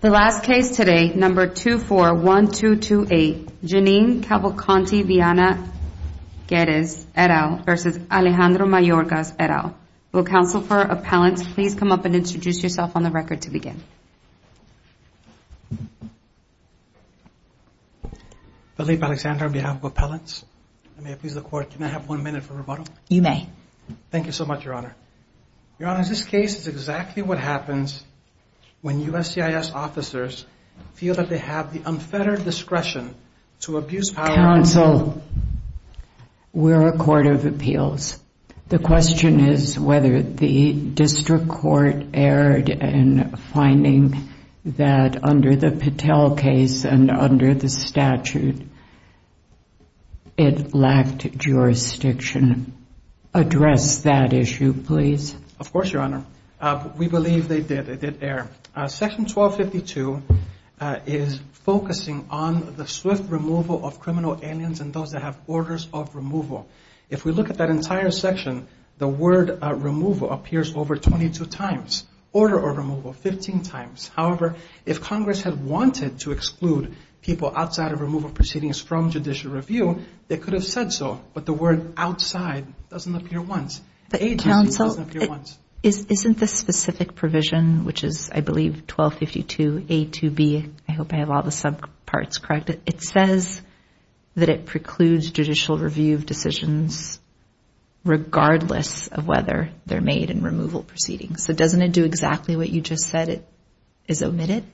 The last case today, number 241228, Janine Cavalcanti-Viana Guedes et al. v. Alejandro Mayorkas et al. Will counsel for appellants please come up and introduce yourself on the record to begin. Philippe Alexander on behalf of appellants. May I please the court, can I have one minute for rebuttal? You may. Thank you so much, Your Honor. Your Honor, this case is exactly what happens when USCIS officers feel that they have the unfettered discretion to abuse power. Counsel, we're a court of appeals. The question is whether the district court erred in finding that under the Patel case and under the statute it lacked jurisdiction. Address that issue, please. Of course, Your Honor. We believe they did, they did err. Section 1252 is focusing on the swift removal of criminal aliens and those that have orders of removal. If we look at that entire section, the word removal appears over 22 times. Order of removal, 15 times. However, if Congress had wanted to exclude people outside of removal proceedings from judicial review, they could have said so. But the word outside doesn't appear once. Agency doesn't appear once. Counsel, isn't the specific provision, which is I believe 1252A2B, I hope I have all the subparts correct, it says that it precludes judicial review of decisions regardless of whether they're made in removal proceedings. So doesn't it do exactly what you just said? It is omitted?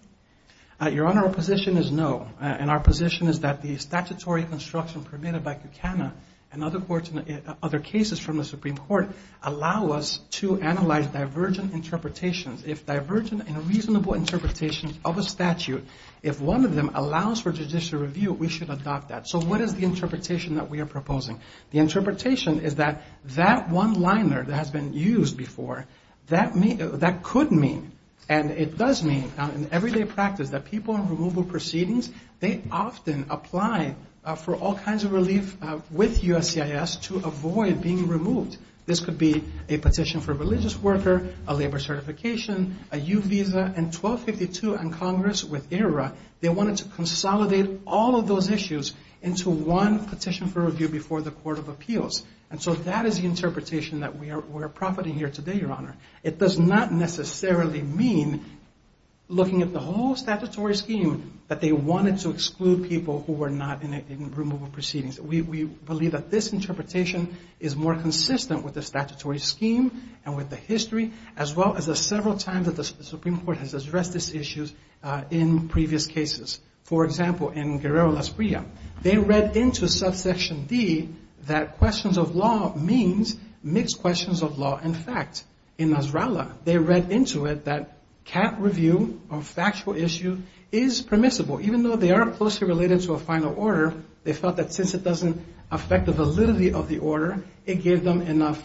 Your Honor, our position is no. And our position is that the statutory construction permitted by CUCANA and other courts and other cases from the Supreme Court allow us to analyze divergent interpretations. If divergent and reasonable interpretations of a statute, if one of them allows for judicial review, we should adopt that. So what is the interpretation that we are proposing? The interpretation is that that one-liner that has been used before, that could mean and it does mean in everyday practice that people in removal proceedings, they often apply for all kinds of relief with USCIS to avoid being removed. This could be a petition for a religious worker, a labor certification, a U visa, and 1252 and Congress with ERA, they wanted to consolidate all of those issues into one petition for review before the Court of Appeals. And so that is the interpretation that we are profiting here today, Your Honor. It does not necessarily mean looking at the whole statutory scheme that they wanted to exclude people who were not in removal proceedings. We believe that this interpretation is more consistent with the statutory scheme and with the history, as well as the several times that the Supreme Court has addressed these issues in previous cases. For example, in Guerrero-Las Priyas, they read into subsection D that questions of law means mixed questions of law and fact. In Nasrallah, they read into it that can't review a factual issue is permissible, even though they are closely related to a final order, they felt that since it doesn't affect the validity of the order, it gave them enough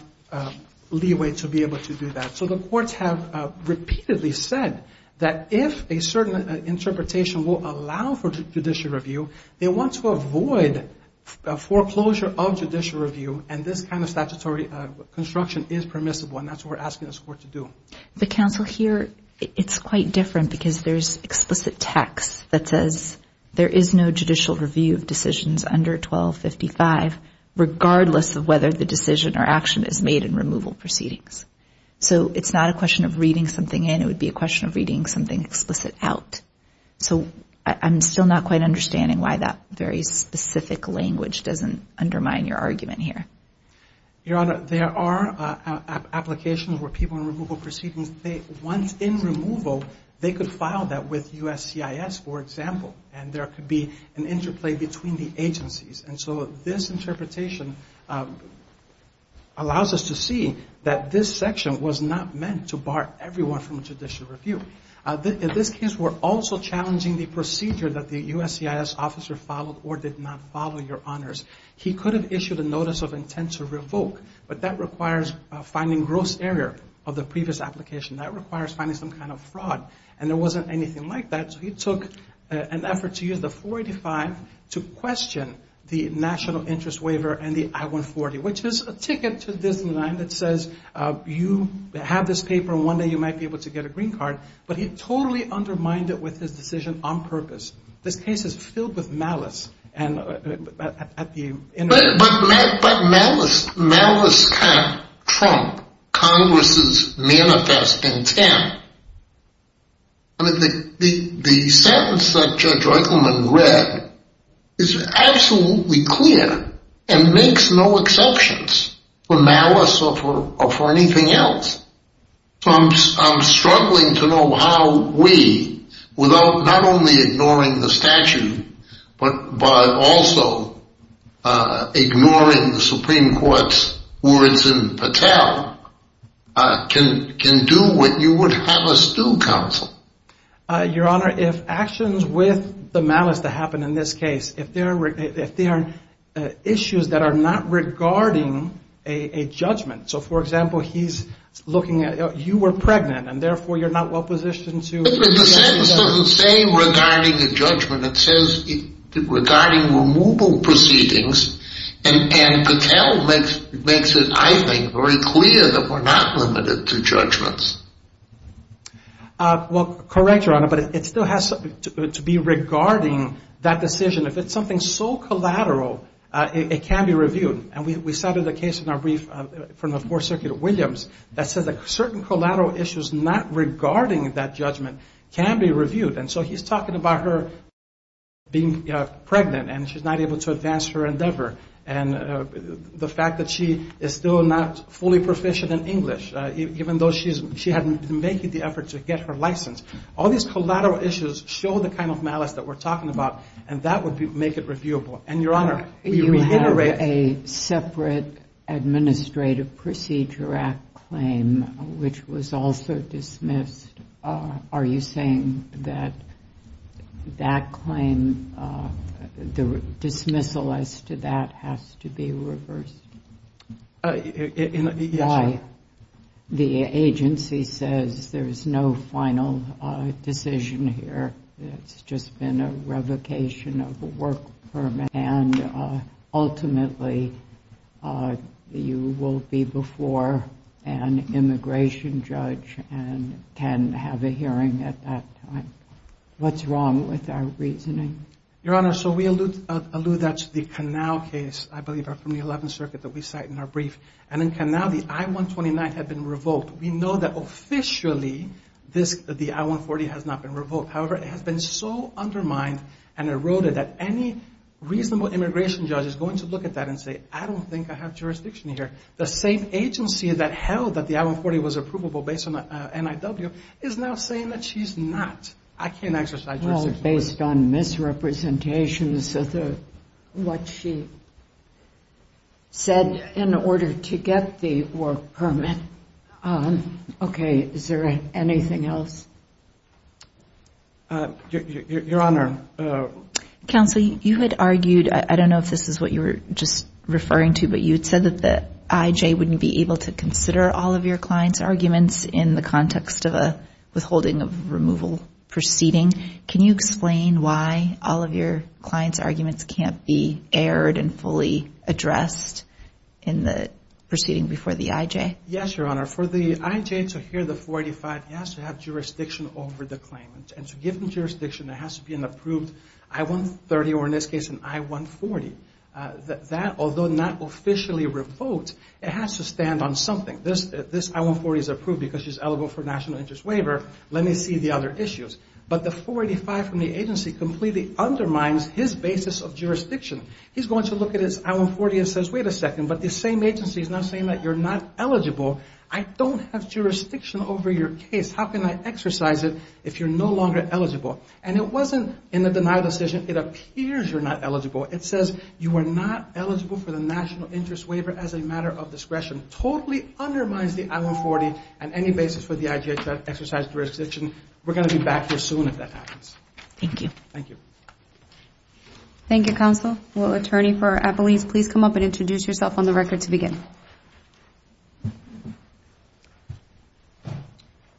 leeway to be able to do that. So the courts have repeatedly said that if a certain interpretation will allow for judicial review, they want to avoid foreclosure of judicial review, and this kind of statutory construction is permissible, and that's what we're asking this Court to do. But, Counsel, here it's quite different because there's explicit text that says there is no judicial review of decisions under 1255, regardless of whether the decision or action is made in removal proceedings. So it's not a question of reading something in. It would be a question of reading something explicit out. So I'm still not quite understanding why that very specific language doesn't undermine your argument here. Your Honor, there are applications where people in removal proceedings, once in removal, they could file that with USCIS, for example, and there could be an interplay between the agencies. And so this interpretation allows us to see that this section was not meant to bar everyone from judicial review. In this case, we're also challenging the procedure that the USCIS officer followed or did not follow, Your Honors. He could have issued a notice of intent to revoke, but that requires finding gross error of the previous application. That requires finding some kind of fraud, and there wasn't anything like that. So he took an effort to use the 485 to question the National Interest Waiver and the I-140, which is a ticket to this line that says you have this paper, and one day you might be able to get a green card. But he totally undermined it with his decision on purpose. This case is filled with malice. But malice can't trump Congress's manifest intent. The sentence that Judge Eichelman read is absolutely clear and makes no exceptions for malice or for anything else. So I'm struggling to know how we, without not only ignoring the statute, but also ignoring the Supreme Court's words in Patel, can do what you would have us do, Counsel. Your Honor, if actions with the malice that happened in this case, if they are issues that are not regarding a judgment, so, for example, he's looking at you were pregnant, and therefore you're not well-positioned to... But the sentence doesn't say regarding a judgment. It says regarding removal proceedings, and Patel makes it, I think, very clear that we're not limited to judgments. Well, correct, Your Honor, but it still has to be regarding that decision. If it's something so collateral, it can be reviewed. And we cited a case in our brief from the Fourth Circuit of Williams that says that certain collateral issues not regarding that judgment can be reviewed. And so he's talking about her being pregnant, and she's not able to advance her endeavor, and the fact that she is still not fully proficient in English, even though she had been making the effort to get her license. All these collateral issues show the kind of malice that we're talking about, and that would make it reviewable. And, Your Honor, you reiterate... You have a separate Administrative Procedure Act claim, which was also dismissed. Are you saying that that claim, the dismissal as to that has to be reversed? Yes, Your Honor. The agency says there's no final decision here. It's just been a revocation of a work permit, and ultimately, you will be before an immigration judge and can have a hearing at that time. What's wrong with our reasoning? Your Honor, so we allude that to the Canal case, I believe, from the Eleventh Circuit that we cite in our brief. And in Canal, the I-129 had been revoked. We know that officially the I-140 has not been revoked. However, it has been so undermined and eroded that any reasonable immigration judge is going to look at that and say, I don't think I have jurisdiction here. The same agency that held that the I-140 was approvable based on the NIW is now saying that she's not. I can't exercise jurisdiction. Based on misrepresentations of what she said in order to get the work permit. Okay. Is there anything else? Your Honor. Counsel, you had argued, I don't know if this is what you were just referring to, but you had said that the IJ wouldn't be able to consider all of your client's arguments in the context of a withholding of removal proceeding. Can you explain why all of your client's arguments can't be aired and fully addressed in the proceeding before the IJ? Yes, Your Honor. For the IJ to hear the 485, it has to have jurisdiction over the claimant. And to give them jurisdiction, there has to be an approved I-130, or in this case, an I-140. That, although not officially revoked, it has to stand on something. This I-140 is approved because she's eligible for a National Interest Waiver. Let me see the other issues. But the 485 from the agency completely undermines his basis of jurisdiction. He's going to look at his I-140 and says, wait a second, but this same agency is now saying that you're not eligible. I don't have jurisdiction over your case. How can I exercise it if you're no longer eligible? And it wasn't in the denial decision. It appears you're not eligible. It says you are not eligible for the National Interest Waiver as a matter of discretion. Totally undermines the I-140 and any basis for the IJ to exercise jurisdiction. We're going to be back here soon if that happens. Thank you. Thank you. Thank you, Counsel. Will Attorney for Appelese please come up and introduce yourself on the record to begin?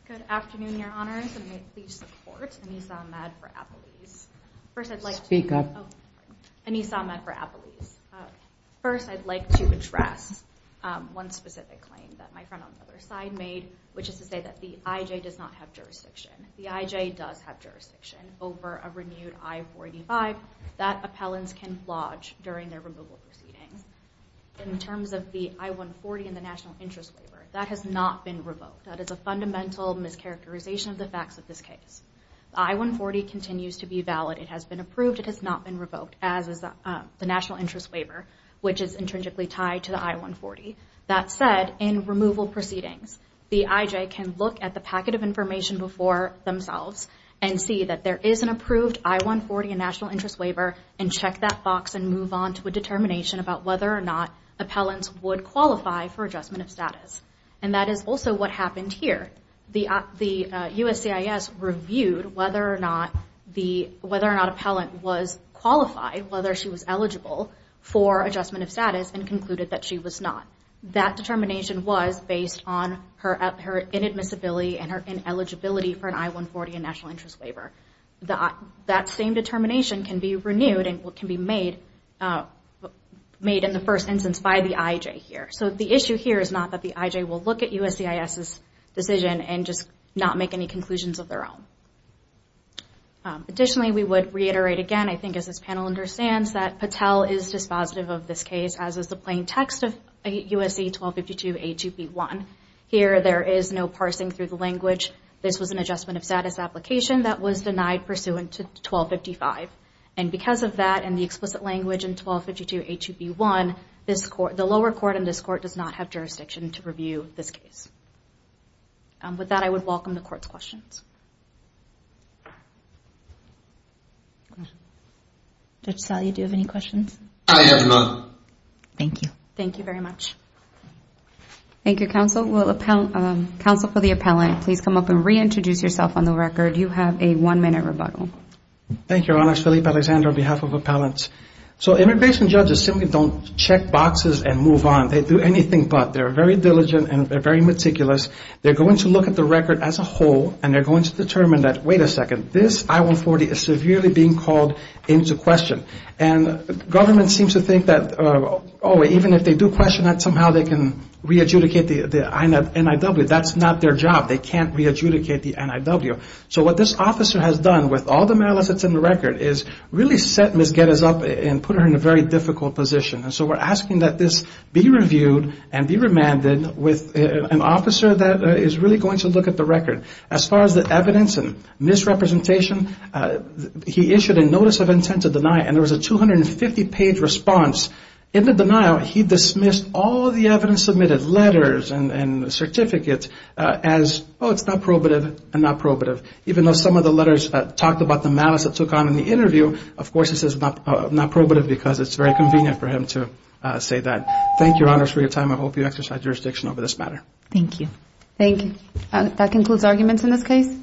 Good afternoon, Your Honors. And may it please support Anissa Ahmed for Appelese. Speak up. Anissa Ahmed for Appelese. First, I'd like to address one specific claim that my friend on the other side made, which is to say that the IJ does not have jurisdiction. The IJ does have jurisdiction over a renewed I-45 that appellants can lodge during their removal proceedings. In terms of the I-140 and the National Interest Waiver, that has not been revoked. That is a fundamental mischaracterization of the facts of this case. The I-140 continues to be valid. It has been approved. It has not been revoked, as is the National Interest Waiver, which is intrinsically tied to the I-140. That said, in removal proceedings, the IJ can look at the packet of information before themselves and see that there is an approved I-140 and National Interest Waiver, and check that box and move on to a determination about whether or not appellants would qualify for adjustment of status. And that is also what happened here. The USCIS reviewed whether or not appellant was qualified, whether she was eligible, for adjustment of status and concluded that she was not. That determination was based on her inadmissibility and her ineligibility for an I-140 and National Interest Waiver. That same determination can be renewed and can be made in the first instance by the IJ here. So the issue here is not that the IJ will look at USCIS's decision and just not make any conclusions of their own. Additionally, we would reiterate again, I think as this panel understands, that Patel is dispositive of this case, as is the plain text of USC 1252A2B1. Here, there is no parsing through the language. This was an adjustment of status application that was denied pursuant to 1255. And because of that and the explicit language in 1252A2B1, the lower court in this court does not have jurisdiction to review this case. With that, I would welcome the court's questions. Judge Sal, you do have any questions? I have none. Thank you. Thank you very much. Thank you, counsel. Counsel for the appellant, please come up and reintroduce yourself on the record. You have a one-minute rebuttal. Thank you, Your Honor. I'm Felipe Alexander on behalf of appellants. So immigration judges simply don't check boxes and move on. They do anything but. They're very diligent and they're very meticulous. They're going to look at the record as a whole, and they're going to determine that, wait a second, this I-140 is severely being called into question. And government seems to think that, oh, even if they do question that, somehow they can re-adjudicate the NIW. That's not their job. They can't re-adjudicate the NIW. So what this officer has done, with all the malice that's in the record, is really set Ms. Guedes up and put her in a very difficult position. And so we're asking that this be reviewed and be remanded with an officer that is really going to look at the record. As far as the evidence and misrepresentation, he issued a notice of intent to deny it, and there was a 250-page response. In the denial, he dismissed all the evidence submitted, letters and certificates, as, oh, it's not probative and not probative, even though some of the letters talked about the malice it took on in the interview. Of course, this is not probative because it's very convenient for him to say that. Thank you, Your Honors, for your time. I hope you exercise jurisdiction over this matter. Thank you. Thank you. That concludes arguments in this case.